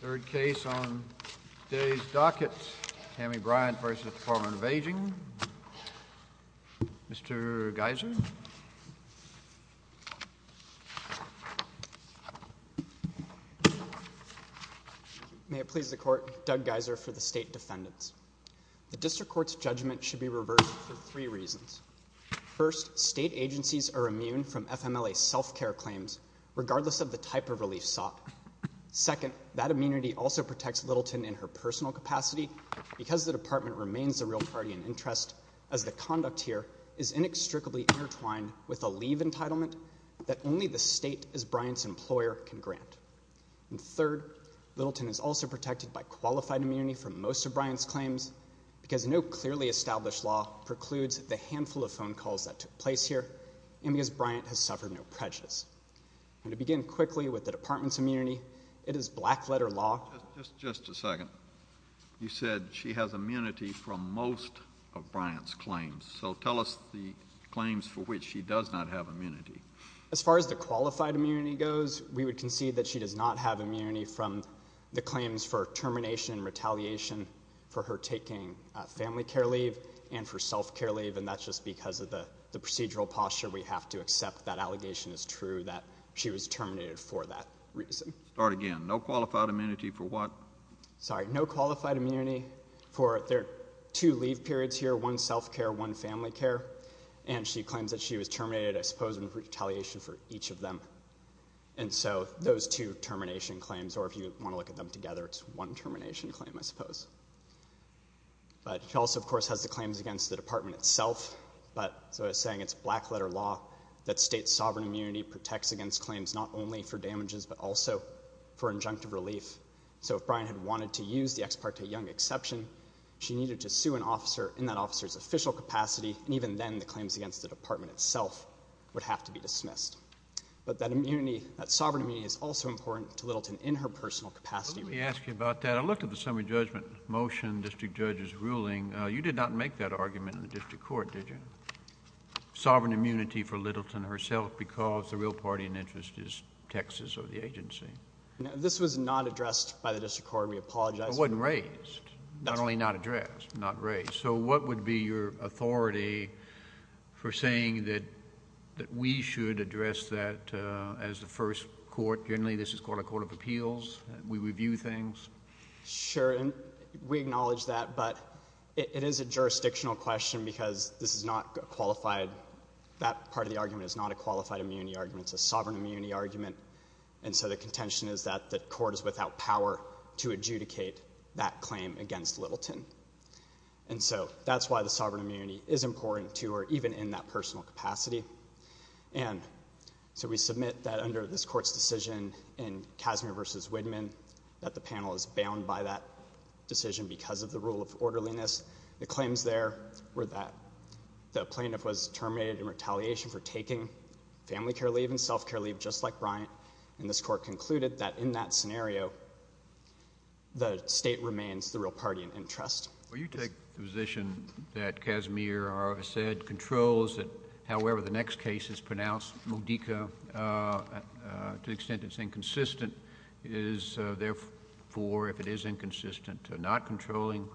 Third case on today's docket, Tammy Bryant v. Dept of Aging, Mr. Geiser. May it please the Court, Doug Geiser for the State Defendants. The District Court's judgment should be reversed for three reasons. First, state agencies are immune from FMLA self-care claims, regardless of the type of relief sought. Second, that immunity also protects Littleton in her personal capacity, because the department remains the real party in interest, as the conduct here is inextricably intertwined with a leave entitlement that only the state as Bryant's employer can grant. And third, Littleton is also protected by qualified immunity for most of Bryant's claims, because no clearly established law precludes the handful of phone calls that took place here, and because Bryant has suffered no prejudice. And to begin quickly with the department's immunity, it is black-letter law. Just a second. You said she has immunity from most of Bryant's claims. So tell us the claims for which she does not have immunity. As far as the qualified immunity goes, we would concede that she does not have immunity from the claims for termination and retaliation for her taking family care leave and for self-care leave, and that's just because of the procedural posture. We have to accept that allegation is true, that she was terminated for that reason. Start again. No qualified immunity for what? Sorry, no qualified immunity for their two leave periods here, one self-care, one family care, and she claims that she was terminated, I suppose, in retaliation for each of them. And so those two termination claims, or if you want to look at them together, it's one termination claim, I suppose. But she also, of course, has the claims against the department itself, but as I was saying, it's black-letter law that states sovereign immunity protects against claims not only for damages but also for injunctive relief. So if Bryant had wanted to use the ex parte young exception, she needed to sue an officer in that officer's official capacity, and even then the claims against the department itself would have to be dismissed. But that immunity, that sovereign immunity, is also important to Littleton in her personal capacity. Let me ask you about that. I looked at the summary judgment motion, district judge's ruling. You did not make that argument in the district court, did you? Sovereign immunity for Littleton herself because the real party in interest is Texas or the agency. This was not addressed by the district court. We apologize. It wasn't raised. Not only not addressed, not raised. So what would be your authority for saying that we should address that as the first court? Generally, this is called a court of appeals. We review things. Sure. And we acknowledge that, but it is a jurisdictional question because this is not a qualified — that part of the argument is not a qualified immunity argument. It's a sovereign immunity argument. And so the contention is that the court is without power to adjudicate that claim against Littleton. And so that's why the sovereign immunity is important to her, even in that personal capacity. And so we submit that under this court's decision in Casimir v. Widman, that the panel is bound by that decision because of the rule of orderliness. The claims there were that the plaintiff was terminated in retaliation for taking family care leave and self-care leave just like Bryant. And this court concluded that in that scenario, the state remains the real party in interest. Well, you take the position that Casimir said controls it. However, the next case is pronounced, Modica, to the extent it's inconsistent. It is, therefore, if it is inconsistent, not controlling.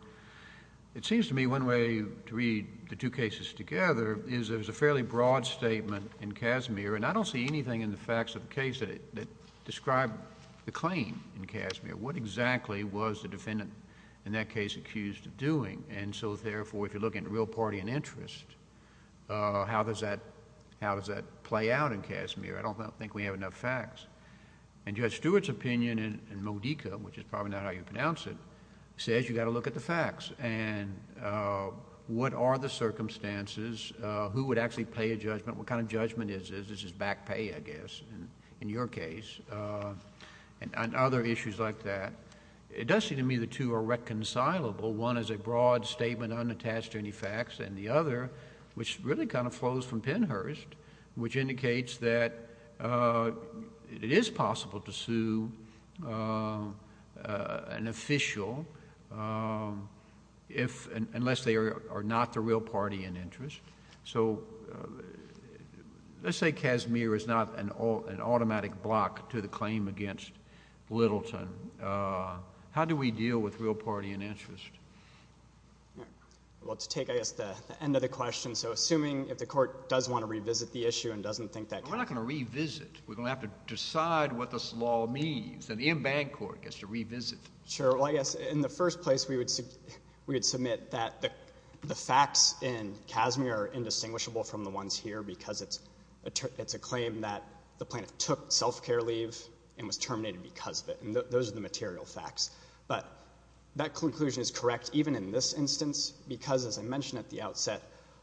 It seems to me one way to read the two cases together is there's a fairly broad statement in Casimir, and I don't see anything in the facts of the case that describe the claim in Casimir. What exactly was the defendant in that case accused of doing? And so, therefore, if you're looking at real party in interest, how does that play out in Casimir? I don't think we have enough facts. And Judge Stewart's opinion in Modica, which is probably not how you pronounce it, says you've got to look at the facts. And what are the circumstances? Who would actually pay a judgment? What kind of judgment is this? This is back pay, I guess, in your case. And other issues like that. It does seem to me the two are reconcilable. One is a broad statement unattached to any facts, and the other, which really kind of flows from Penhurst, which indicates that it is possible to sue an official unless they are not the real party in interest. So let's say Casimir is not an automatic block to the claim against Littleton. How do we deal with real party in interest? Well, to take, I guess, the end of the question. So assuming if the court does want to revisit the issue and doesn't think that can be done. We're not going to revisit. We're going to have to decide what this law means. And the en banc court gets to revisit. Sure. Well, I guess in the first place we would submit that the facts in Casimir are indistinguishable from the ones here because it's a claim that the plaintiff took self-care leave and was terminated because of it. And those are the material facts. But that conclusion is correct even in this instance because, as I mentioned at the outset,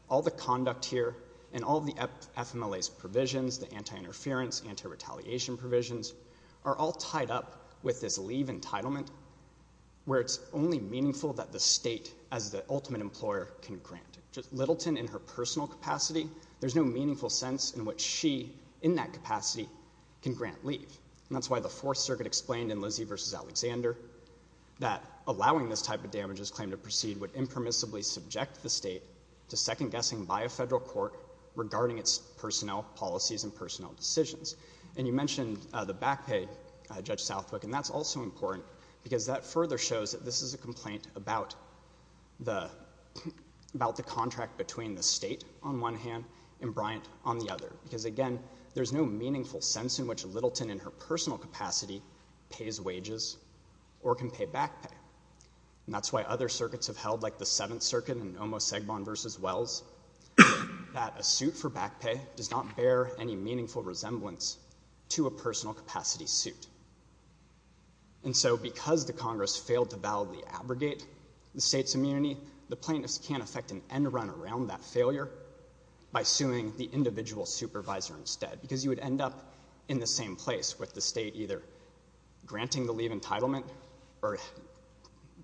all the conduct here and all the FMLA's provisions, the anti-interference, anti-retaliation provisions are all tied up with this leave entitlement where it's only meaningful that the state as the ultimate employer can grant. Littleton in her personal capacity, there's no meaningful sense in which she in that capacity can grant leave. And that's why the Fourth Circuit explained in Lizzie v. Alexander that allowing this type of damages claim to proceed would impermissibly subject the state to second-guessing by a federal court regarding its personnel policies and personnel decisions. And you mentioned the back pay, Judge Southwick, and that's also important because that further shows that this is a complaint about the contract between the state on one hand and Bryant on the other because, again, there's no meaningful sense in which Littleton in her personal capacity pays wages or can pay back pay. And that's why other circuits have held, like the Seventh Circuit in Omos-Segbon v. Wells, that a suit for back pay does not bear any meaningful resemblance to a personal capacity suit. And so because the Congress failed to validly abrogate the state's immunity, the plaintiffs can't affect an end-run around that failure by suing the individual supervisor instead because you would end up in the same place with the state either granting the leave entitlement or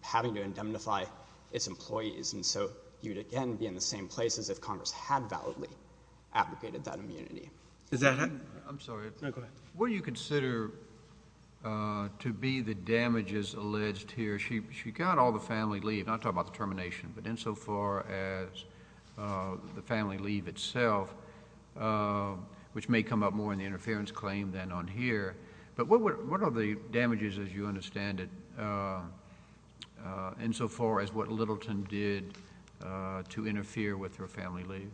having to indemnify its employees. And so you would, again, be in the same place as if Congress had validly abrogated that immunity. Is that it? I'm sorry. No, go ahead. What do you consider to be the damages alleged here? She got all the family leave, not talking about the termination, but insofar as the family leave itself, which may come up more in the interference claim than on here. But what are the damages, as you understand it, insofar as what Littleton did to interfere with her family leave?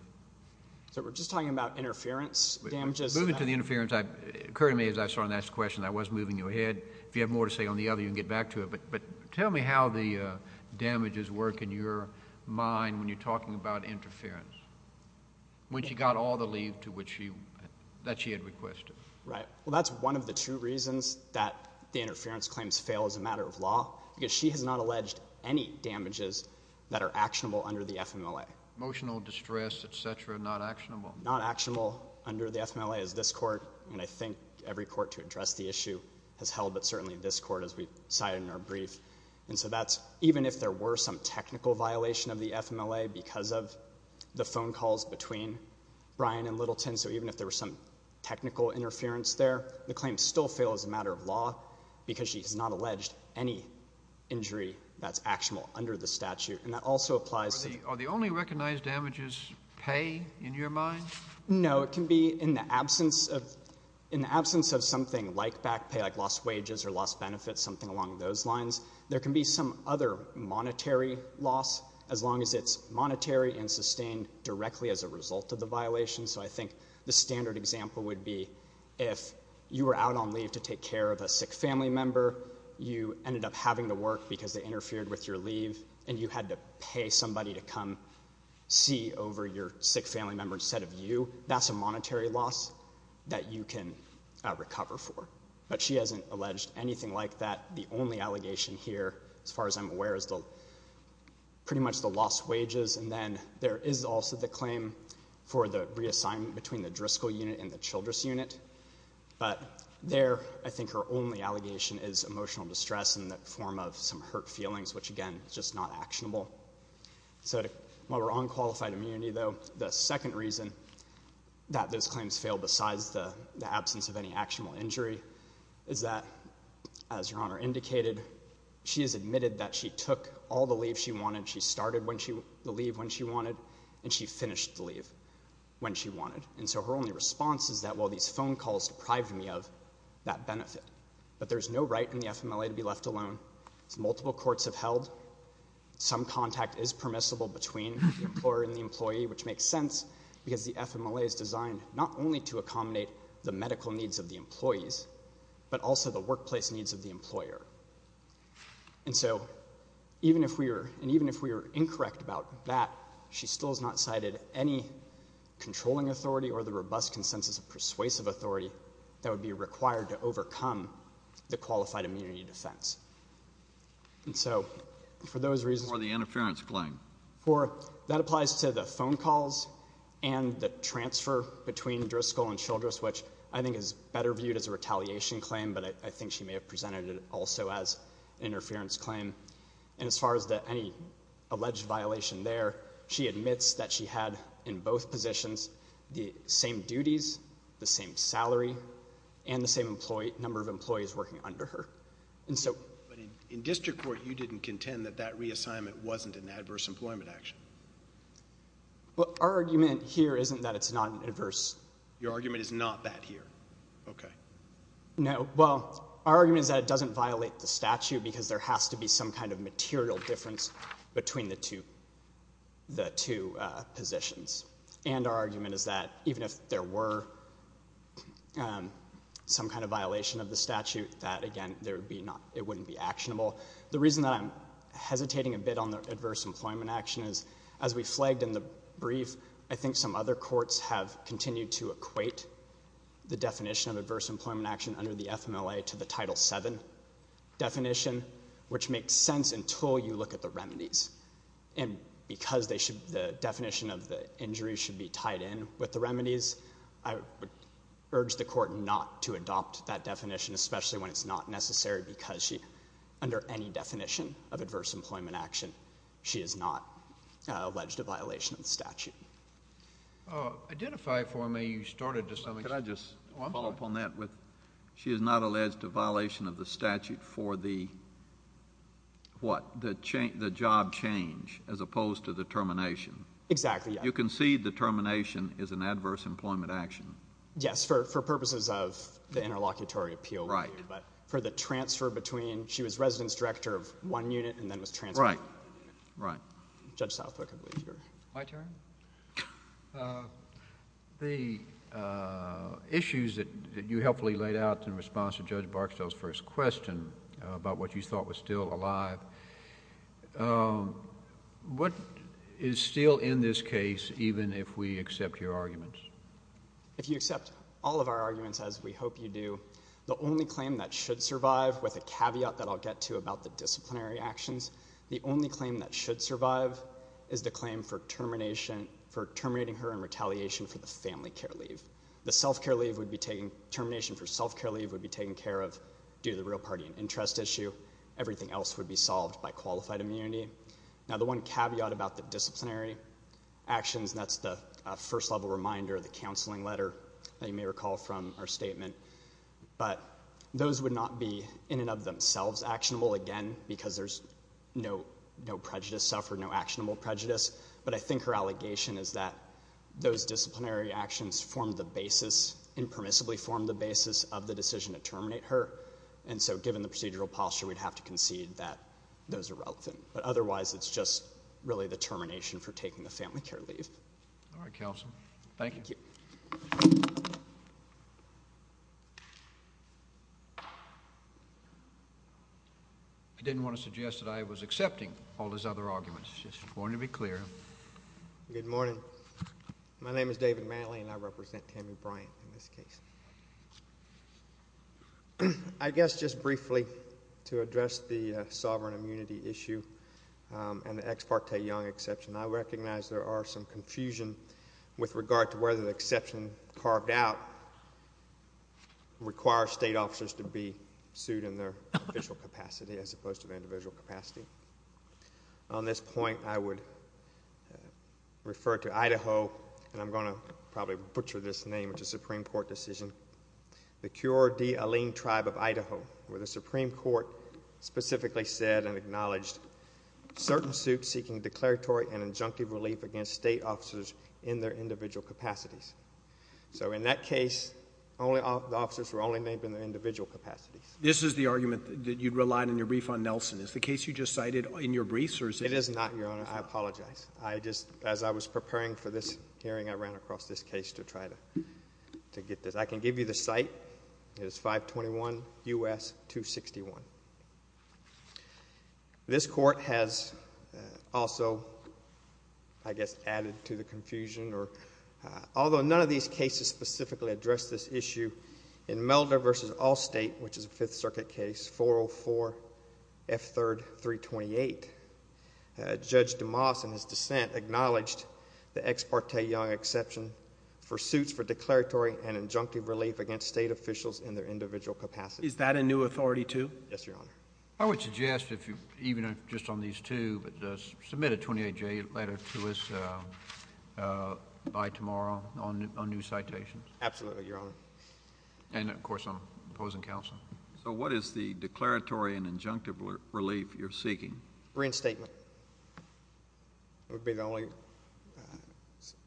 So we're just talking about interference damages? Moving to the interference, it occurred to me as I started to ask the question, I was moving you ahead. If you have more to say on the other, you can get back to it. But tell me how the damages work in your mind when you're talking about interference, when she got all the leave that she had requested. Right. Well, that's one of the two reasons that the interference claims fail as a matter of law, because she has not alleged any damages that are actionable under the FMLA. Emotional distress, et cetera, not actionable. Not actionable under the FMLA is this Court. And I think every court to address the issue has held, but certainly this Court, as we cited in our brief. And so that's even if there were some technical violation of the FMLA because of the phone calls between Bryan and Littleton, so even if there were some technical interference there, the claims still fail as a matter of law because she has not alleged any injury that's actionable under the statute. And that also applies to the— Are the only recognized damages pay in your mind? No. It can be in the absence of something like back pay, like lost wages or lost benefits, something along those lines. There can be some other monetary loss as long as it's monetary and sustained directly as a result of the violation. So I think the standard example would be if you were out on leave to take care of a sick family member, you ended up having to work because they interfered with your leave, and you had to pay somebody to come see over your sick family member instead of you, that's a monetary loss that you can recover for. But she hasn't alleged anything like that. The only allegation here, as far as I'm aware, is pretty much the lost wages. And then there is also the claim for the reassignment between the Driscoll unit and the Childress unit. But there, I think her only allegation is emotional distress in the form of some hurt feelings, which, again, is just not actionable. So while we're on qualified immunity, though, the second reason that those claims fail besides the absence of any actionable injury is that, as Your Honor indicated, she has admitted that she took all the leave she wanted. She started the leave when she wanted, and she finished the leave when she wanted. And so her only response is that, well, these phone calls deprived me of that benefit. But there's no right in the FMLA to be left alone. Multiple courts have held. Some contact is permissible between the employer and the employee, which makes sense because the FMLA is designed not only to accommodate the medical needs of the employees but also the workplace needs of the employer. And so even if we were — and even if we were incorrect about that, she still has not cited any controlling authority or the robust consensus of persuasive authority that would be required to overcome the qualified immunity defense. And so for those reasons — For the interference claim. For — that applies to the phone calls and the transfer between Driscoll and Childress, which I think is better viewed as a retaliation claim, but I think she may have presented it also as an interference claim. And as far as any alleged violation there, she admits that she had, in both positions, the same duties, the same salary, and the same number of employees working under her. But in district court, you didn't contend that that reassignment wasn't an adverse employment action. Well, our argument here isn't that it's not an adverse. Your argument is not that here. Okay. No. Well, our argument is that it doesn't violate the statute because there has to be some kind of material difference between the two positions. And our argument is that even if there were some kind of violation of the statute, that, again, it wouldn't be actionable. The reason that I'm hesitating a bit on the adverse employment action is, as we flagged in the brief, I think some other courts have continued to equate the definition of adverse employment action under the FMLA to the Title VII definition, which makes sense until you look at the remedies. And because the definition of the injury should be tied in with the remedies, I would urge the court not to adopt that definition, especially when it's not necessary because under any definition of adverse employment action, she is not alleged to violation of the statute. Identify for me. You started this. Let me just follow up on that. She is not alleged to violation of the statute for the job change as opposed to the termination. Exactly. You concede the termination is an adverse employment action. Yes, for purposes of the interlocutory appeal. Right. But for the transfer between she was residence director of one unit and then was transferred to another unit. Right. Judge Southwick, I believe you're. My turn? The issues that you helpfully laid out in response to Judge Barksdale's first question about what you thought was still alive, what is still in this case even if we accept your arguments? If you accept all of our arguments, as we hope you do, the only claim that should survive with a caveat that I'll get to about the disciplinary actions, the only claim that should survive is the claim for terminating her in retaliation for the family care leave. The termination for self-care leave would be taken care of due to the real party interest issue. Everything else would be solved by qualified immunity. Now, the one caveat about the disciplinary actions, and that's the first level reminder of the counseling letter that you may recall from our statement, but those would not be in and of themselves actionable, again, because there's no prejudice suffered, no actionable prejudice. But I think her allegation is that those disciplinary actions form the basis, impermissibly form the basis of the decision to terminate her. And so given the procedural posture, we'd have to concede that those are relevant. But otherwise, it's just really the termination for taking the family care leave. All right, Counselor. Thank you. Thank you. I didn't want to suggest that I was accepting all his other arguments. I just wanted to be clear. Good morning. My name is David Matley, and I represent Tammy Bryant in this case. I guess just briefly to address the sovereign immunity issue and the ex parte young exception, I recognize there are some confusion with regard to whether the exception carved out requires state officers to be sued in their official capacity as opposed to their individual capacity. On this point, I would refer to Idaho, and I'm going to probably butcher this name, which is a Supreme Court decision. The Cure de Alene tribe of Idaho, where the Supreme Court specifically said and acknowledged certain suits seeking declaratory and injunctive relief against state officers in their individual capacities. So in that case, the officers were only named in their individual capacities. This is the argument that you relied in your brief on Nelson. Is the case you just cited in your briefs? It is not, Your Honor. I apologize. As I was preparing for this hearing, I ran across this case to try to get this. I can give you the site. It is 521 U.S. 261. This court has also, I guess, added to the confusion. Although none of these cases specifically address this issue, in Melder v. Allstate, which is a Fifth Circuit case, 404 F. 3rd 328, Judge DeMoss, in his dissent, acknowledged the Ex Parte Young exception for suits for declaratory and injunctive relief against state officials in their individual capacities. Is that a new authority, too? Yes, Your Honor. I would suggest, even just on these two, submit a 28-J letter to us by tomorrow on new citations. Absolutely, Your Honor. And, of course, I'm opposing counsel. So what is the declaratory and injunctive relief you're seeking? Reinstatement would be the only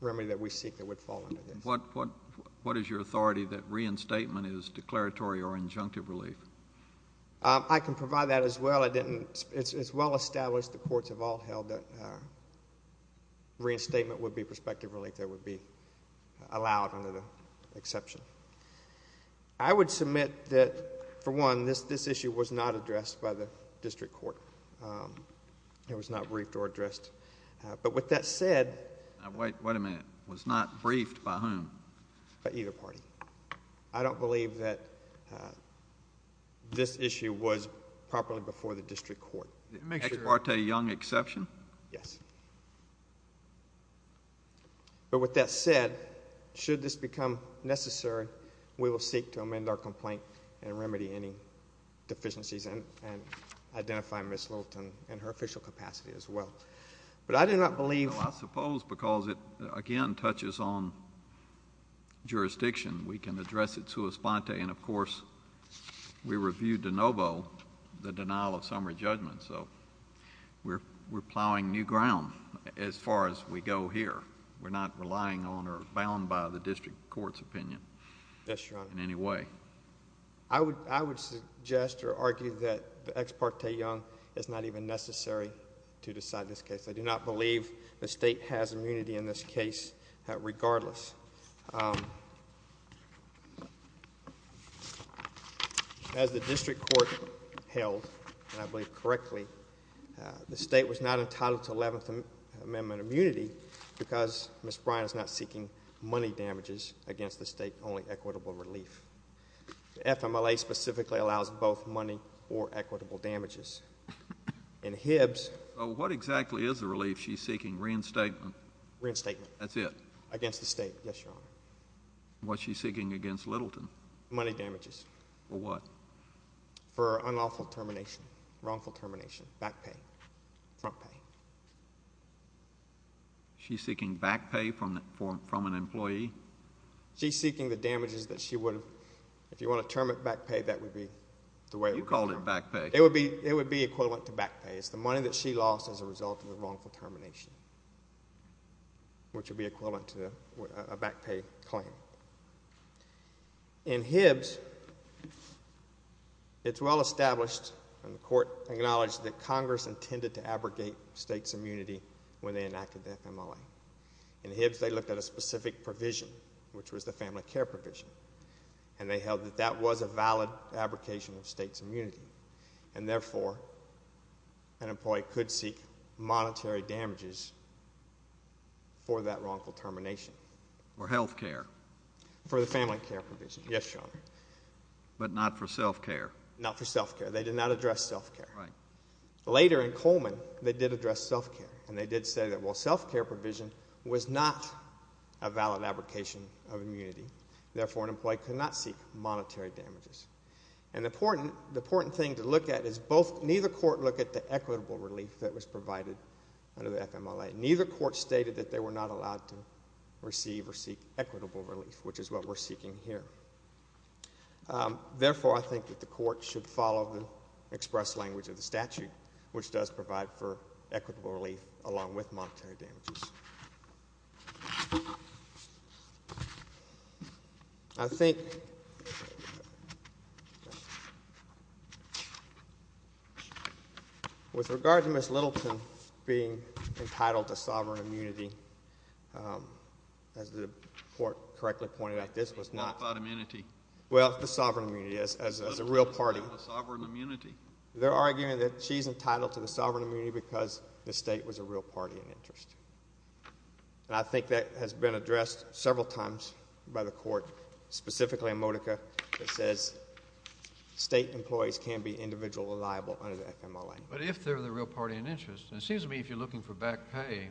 remedy that we seek that would fall under this. What is your authority that reinstatement is declaratory or injunctive relief? I can provide that as well. It's well established the courts have all held that reinstatement would be prospective relief that would be allowed under the exception. I would submit that, for one, this issue was not addressed by the district court. It was not briefed or addressed. But with that said— Wait a minute. It was not briefed by whom? By either party. I don't believe that this issue was properly before the district court. The Ex Parte Young exception? Yes. But with that said, should this become necessary, we will seek to amend our complaint and remedy any deficiencies and identify Ms. Littleton in her official capacity as well. But I do not believe— Well, I suppose because it, again, touches on jurisdiction, we can address it sua sponte. And, of course, we reviewed de novo the denial of summary judgment. We're plowing new ground as far as we go here. We're not relying on or bound by the district court's opinion in any way. Yes, Your Honor. I would suggest or argue that the Ex Parte Young is not even necessary to decide this case. I do not believe the state has immunity in this case regardless. As the district court held, and I believe correctly, the state was not entitled to 11th Amendment immunity because Ms. Bryant is not seeking money damages against the state, only equitable relief. The FMLA specifically allows both money or equitable damages. And Hibbs— What exactly is the relief she's seeking? Reinstatement? Reinstatement. That's it? Against the state, yes. Yes, Your Honor. What's she seeking against Littleton? Money damages. For what? For unlawful termination, wrongful termination, back pay, front pay. She's seeking back pay from an employee? She's seeking the damages that she would have—if you want to term it back pay, that would be the way it would be termed. You called it back pay. It would be equivalent to back pay. It's the money that she lost as a result of the wrongful termination, which would be equivalent to a back pay claim. In Hibbs, it's well established and the court acknowledged that Congress intended to abrogate states' immunity when they enacted the FMLA. In Hibbs, they looked at a specific provision, which was the family care provision, and they held that that was a valid abrogation of states' immunity, and therefore an employee could seek monetary damages for that wrongful termination. For health care? For the family care provision, yes, Your Honor. But not for self-care? Not for self-care. They did not address self-care. Right. Later in Coleman, they did address self-care, and they did say that, well, self-care provision was not a valid abrogation of immunity, therefore an employee could not seek monetary damages. And the important thing to look at is neither court looked at the equitable relief that was provided under the FMLA. Neither court stated that they were not allowed to receive or seek equitable relief, which is what we're seeking here. Therefore, I think that the court should follow the express language of the statute, which does provide for equitable relief along with monetary damages. I think with regard to Ms. Littleton being entitled to sovereign immunity, as the court correctly pointed out, this was not the sovereign immunity as a real party. Sovereign immunity? They're arguing that she's entitled to the sovereign immunity simply because the state was a real party in interest. And I think that has been addressed several times by the court, specifically in Modica, that says state employees can be individually liable under the FMLA. But if they're the real party in interest, and it seems to me if you're looking for back pay,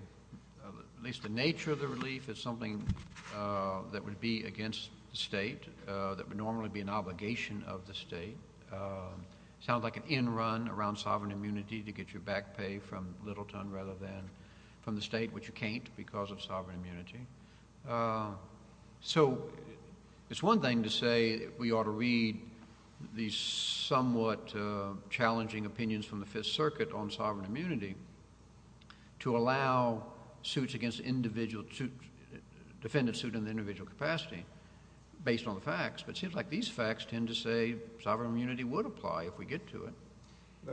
at least the nature of the relief is something that would be against the state, that would normally be an obligation of the state. It sounds like an end run around sovereign immunity to get your back pay from Littleton rather than from the state, which you can't because of sovereign immunity. So it's one thing to say we ought to read these somewhat challenging opinions from the Fifth Circuit on sovereign immunity to allow suits against individuals to defend a suit in the individual capacity based on the facts. But it seems like these facts tend to say sovereign immunity would apply if we get to it.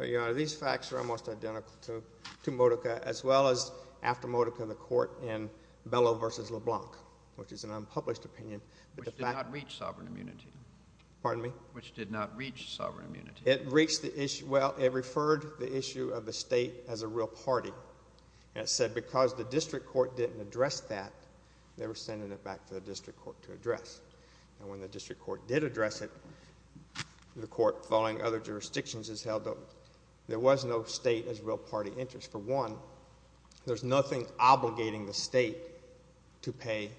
Your Honor, these facts are almost identical to Modica as well as after Modica, the court in Bellow v. LeBlanc, which is an unpublished opinion. Which did not reach sovereign immunity. Pardon me? Which did not reach sovereign immunity. It reached the issue. Well, it referred the issue of the state as a real party. And it said because the district court didn't address that, they were sending it back to the district court to address. And when the district court did address it, the court, following other jurisdictions, has held that there was no state as real party interest. For one, there's nothing obligating the state to pay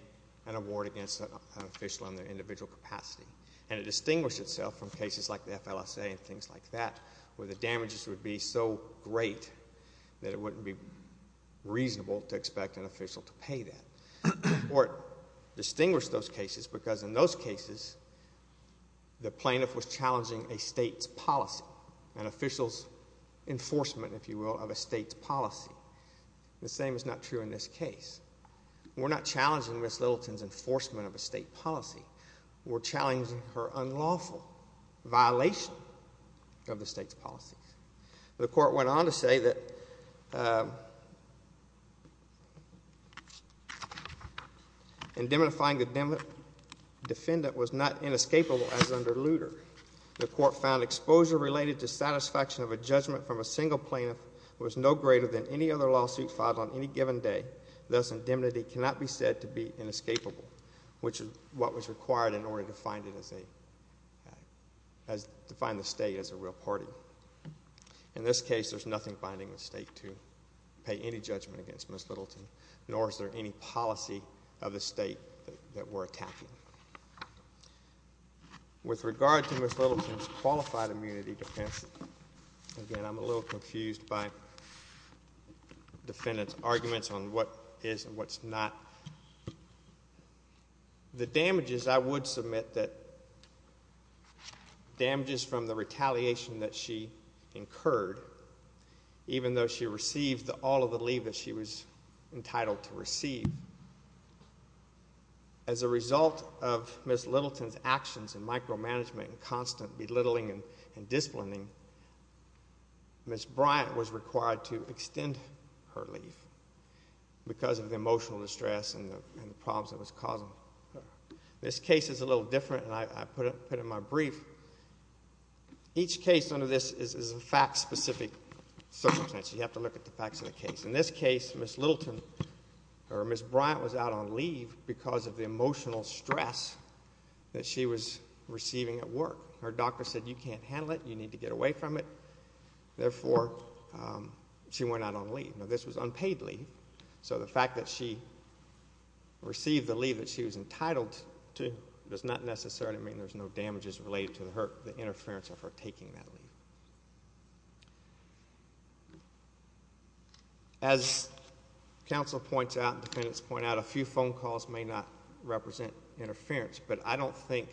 an award against an official in their individual capacity. And it distinguished itself from cases like the FLSA and things like that where the damages would be so great that it wouldn't be reasonable to expect an official to pay that. The court distinguished those cases because in those cases, the plaintiff was challenging a state's policy. An official's enforcement, if you will, of a state's policy. The same is not true in this case. We're not challenging Ms. Littleton's enforcement of a state policy. We're challenging her unlawful violation of the state's policy. The court went on to say that indemnifying the defendant was not inescapable as under Lutter. The court found exposure related to satisfaction of a judgment from a single plaintiff was no greater than any other lawsuit filed on any given day. Thus, indemnity cannot be said to be inescapable, which is what was required in order to define the state as a real party. In this case, there's nothing binding the state to pay any judgment against Ms. Littleton, nor is there any policy of the state that we're attacking. With regard to Ms. Littleton's qualified immunity defense, again, I'm a little confused by the defendant's arguments on what is and what's not. The damages I would submit that damages from the retaliation that she incurred, even though she received all of the leave that she was entitled to receive, as a result of Ms. Littleton's actions in micromanagement and constant belittling and disciplining, Ms. Bryant was required to extend her leave because of the emotional distress and the problems it was causing her. This case is a little different, and I put it in my brief. Each case under this is a fact-specific circumstance. You have to look at the facts of the case. In this case, Ms. Bryant was out on leave because of the emotional stress that she was receiving at work. Her doctor said, you can't handle it, you need to get away from it. Therefore, she went out on leave. Now, this was unpaid leave, so the fact that she received the leave that she was entitled to does not necessarily mean there's no damages related to the interference of her taking that leave. As counsel points out and defendants point out, a few phone calls may not represent interference, but I don't think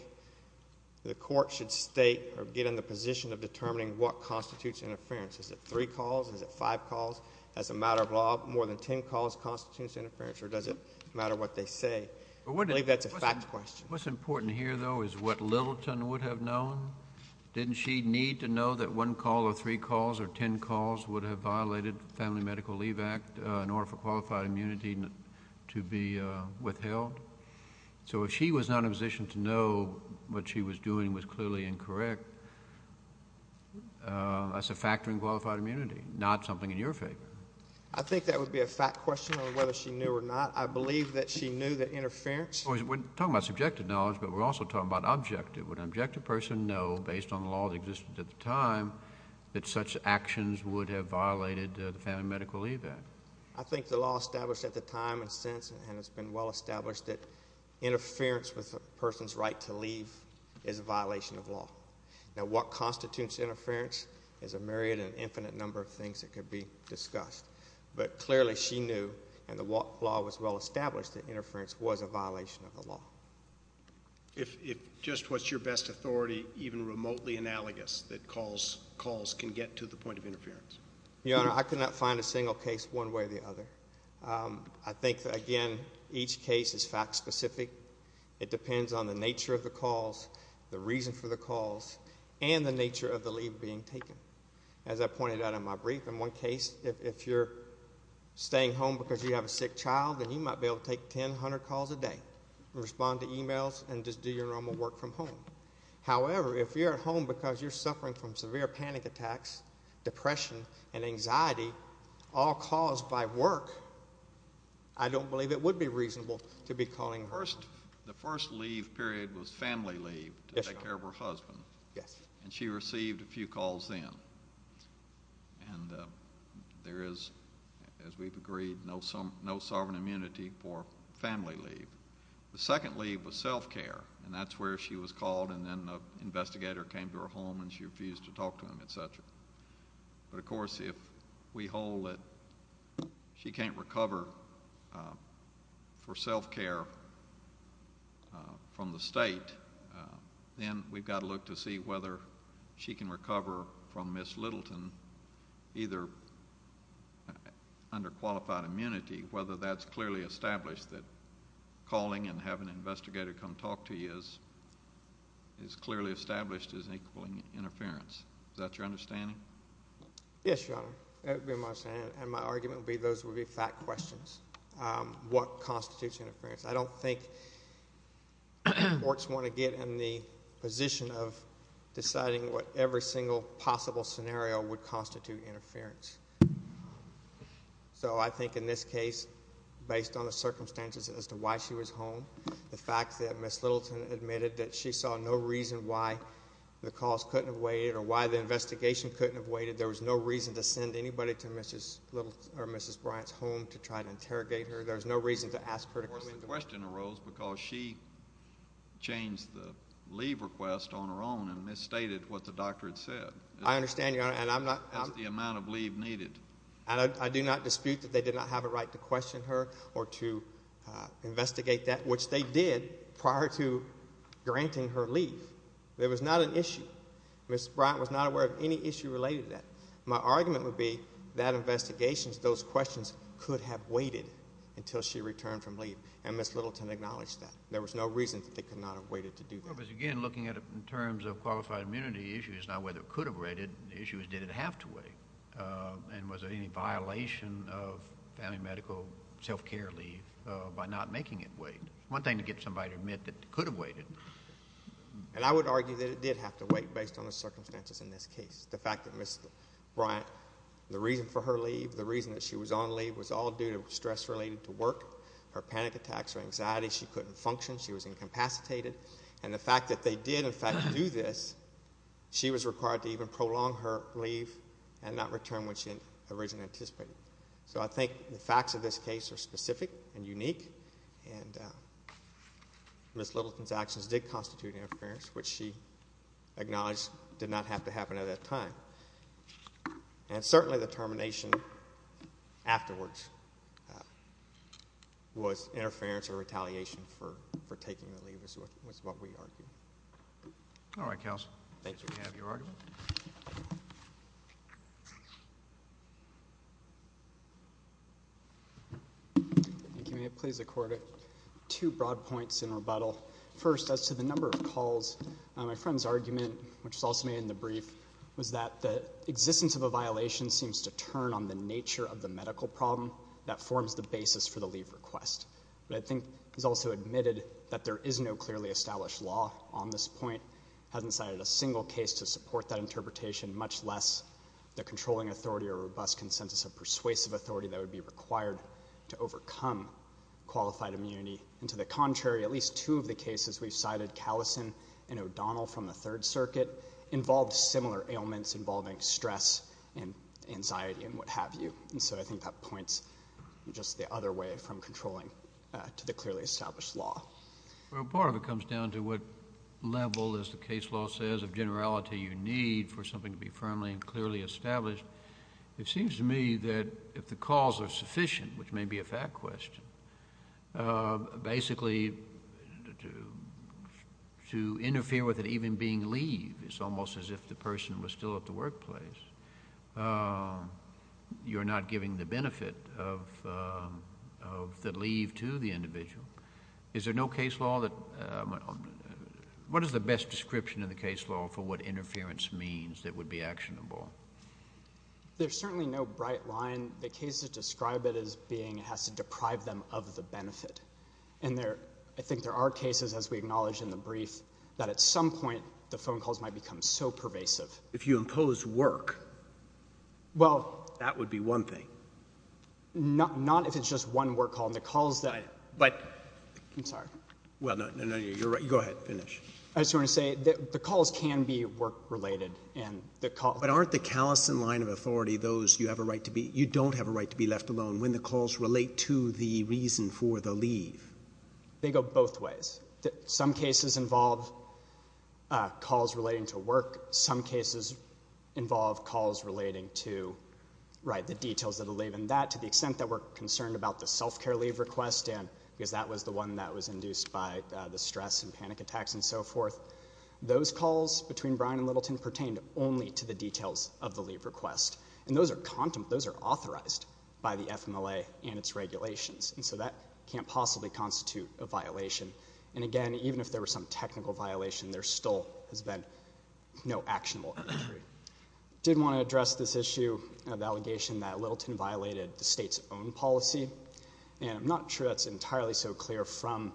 the court should state or get in the position of determining what constitutes interference. Is it three calls? Is it five calls? As a matter of law, more than ten calls constitutes interference, or does it matter what they say? I believe that's a fact question. What's important here, though, is what Littleton would have known. Didn't she need to know that one call or three calls or ten calls would have violated the Family Medical Leave Act in order for qualified immunity to be withheld? So if she was not in a position to know what she was doing was clearly incorrect, that's a factor in qualified immunity, not something in your favor. I think that would be a fact question on whether she knew or not. I believe that she knew that interference... We're talking about subjective knowledge, but we're also talking about objective. Would an objective person know, based on the law that existed at the time, that such actions would have violated the Family Medical Leave Act? I think the law established at the time and since and has been well established that interference with a person's right to leave is a violation of law. Now, what constitutes interference is a myriad and infinite number of things that could be discussed, but clearly she knew and the law was well established that interference was a violation of the law. If just what's your best authority, even remotely analogous, that calls can get to the point of interference? Your Honor, I could not find a single case one way or the other. I think, again, each case is fact specific. It depends on the nature of the calls, the reason for the calls, and the nature of the leave being taken. As I pointed out in my brief, in one case, if you're staying home because you have a sick child, then you might be able to take 10, 100 calls a day and respond to emails and just do your normal work from home. However, if you're at home because you're suffering from severe panic attacks, depression, and anxiety, all caused by work, I don't believe it would be reasonable to be calling home. The first leave period was family leave to take care of her husband. Yes, Your Honor. Yes. She received a few calls then. There is, as we've agreed, no sovereign immunity for family leave. The second leave was self-care, and that's where she was called, and then an investigator came to her home and she refused to talk to him, et cetera. But, of course, if we hold that she can't recover for self-care from the state, then we've got to look to see whether she can recover from Miss Littleton either under qualified immunity, whether that's clearly established that calling and having an investigator come talk to you is clearly established as equaling interference. Is that your understanding? Yes, Your Honor. That would be my understanding, and my argument would be those would be fact questions. What constitutes interference? I don't think courts want to get in the position of deciding what every single possible scenario would constitute interference. So I think in this case, based on the circumstances as to why she was home, the fact that Miss Littleton admitted that she saw no reason why the calls couldn't have waited or why the investigation couldn't have waited, there was no reason to send anybody to Mrs. Bryant's home to try to interrogate her. There was no reason to ask her to come in. Of course, the question arose because she changed the leave request on her own and misstated what the doctor had said. I understand, Your Honor, and I'm not— As the amount of leave needed. I do not dispute that they did not have a right to question her or to investigate that, which they did prior to granting her leave. There was not an issue. Miss Bryant was not aware of any issue related to that. My argument would be that investigations, those questions, could have waited until she returned from leave, and Miss Littleton acknowledged that. There was no reason that they could not have waited to do that. Again, looking at it in terms of qualified immunity issues, and was there any violation of family medical self-care leave by not making it wait? It's one thing to get somebody to admit that it could have waited. And I would argue that it did have to wait based on the circumstances in this case. The fact that Miss Bryant, the reason for her leave, the reason that she was on leave, was all due to stress related to work, her panic attacks, her anxiety. She couldn't function. She was incapacitated. And the fact that they did, in fact, do this, she was required to even prolong her leave and not return what she had originally anticipated. So I think the facts of this case are specific and unique, and Miss Littleton's actions did constitute interference, which she acknowledged did not have to happen at that time. And certainly the termination afterwards was interference or retaliation for taking the leave is what we argue. All right, counsel. Thank you. Do we have your argument? If you may, please accord it two broad points in rebuttal. First, as to the number of calls, my friend's argument, which was also made in the brief, was that the existence of a violation seems to turn on the nature of the medical problem that forms the basis for the leave request. But I think he's also admitted that there is no clearly established law on this point, hasn't cited a single case to support that interpretation, much less the controlling authority or robust consensus of persuasive authority that would be required to overcome qualified immunity. And to the contrary, at least two of the cases we've cited, like Callison and O'Donnell from the Third Circuit, involved similar ailments involving stress and anxiety and what have you. And so I think that points just the other way from controlling to the clearly established law. Well, part of it comes down to what level, as the case law says, of generality you need for something to be firmly and clearly established. It seems to me that if the calls are sufficient, which may be a fact question, basically to interfere with it even being leave, it's almost as if the person was still at the workplace. You're not giving the benefit of the leave to the individual. Is there no case law that – what is the best description of the case law for what interference means that would be actionable? There's certainly no bright line. The case to describe it as being it has to deprive them of the benefit. I think there are cases, as we acknowledged in the brief, that at some point the phone calls might become so pervasive. If you impose work, that would be one thing. Not if it's just one work call. The calls that – I'm sorry. No, you're right. Go ahead. Finish. I just want to say the calls can be work-related. But aren't the callous in line of authority those you have a right to be – you don't have a right to be left alone when the calls relate to the reason for the leave? They go both ways. Some cases involve calls relating to work. Some cases involve calls relating to the details of the leave and that, to the extent that we're concerned about the self-care leave request because that was the one that was induced by the stress and panic attacks and so forth. Those calls between Bryan and Littleton pertained only to the details of the leave request. And those are authorized by the FMLA and its regulations. And so that can't possibly constitute a violation. And, again, even if there were some technical violation, there still has been no actionable injury. I did want to address this issue of the allegation that Littleton violated the state's own policy. And I'm not sure that's entirely so clear from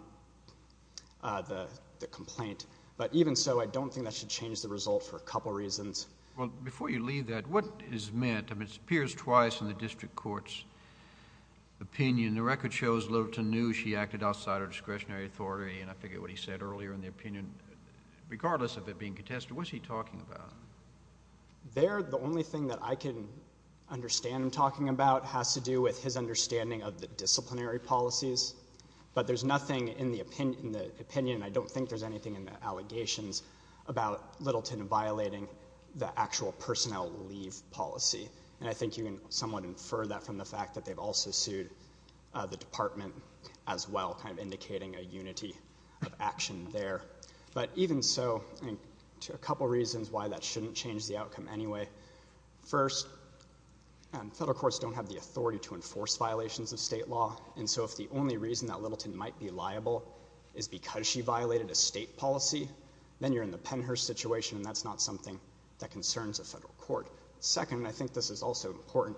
the complaint. But even so, I don't think that should change the result for a couple reasons. Well, before you leave that, what is meant? I mean, it appears twice in the district court's opinion. The record shows Littleton knew she acted outside her discretionary authority, and I forget what he said earlier in the opinion. Regardless of it being contested, what's he talking about? There, the only thing that I can understand him talking about has to do with his understanding of the disciplinary policies. But there's nothing in the opinion, and I don't think there's anything in the allegations, about Littleton violating the actual personnel leave policy. And I think you can somewhat infer that from the fact that they've also sued the department as well, kind of indicating a unity of action there. But even so, a couple reasons why that shouldn't change the outcome anyway. First, federal courts don't have the authority to enforce violations of state law. And so if the only reason that Littleton might be liable is because she violated a state policy, then you're in the Pennhurst situation, and that's not something that concerns a federal court. Second, and I think this is also important,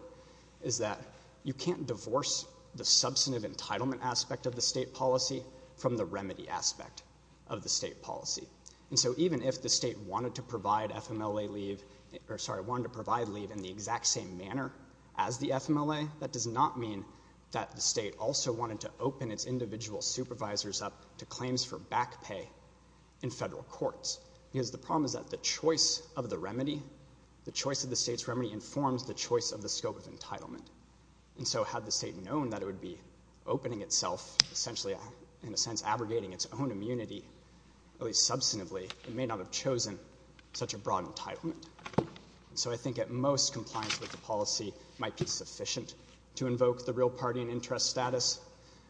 is that you can't divorce the substantive entitlement aspect of the state policy from the remedy aspect of the state policy. And so even if the state wanted to provide leave in the exact same manner as the FMLA, that does not mean that the state also wanted to open its individual supervisors up to claims for back pay in federal courts. Because the problem is that the choice of the remedy, the choice of the state's remedy, informs the choice of the scope of entitlement. And so had the state known that it would be opening itself, essentially in a sense abrogating its own immunity, at least substantively, it may not have chosen such a broad entitlement. And so I think at most compliance with the policy might be sufficient to invoke the real party and interest status,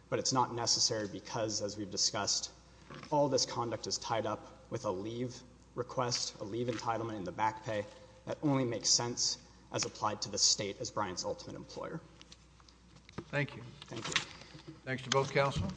but it's not necessary because, as we've discussed, all this conduct is tied up with a leave request, a leave entitlement and the back pay that only makes sense as applied to the state as Bryant's ultimate employer. Thank you. Thank you. Thanks to both counsel.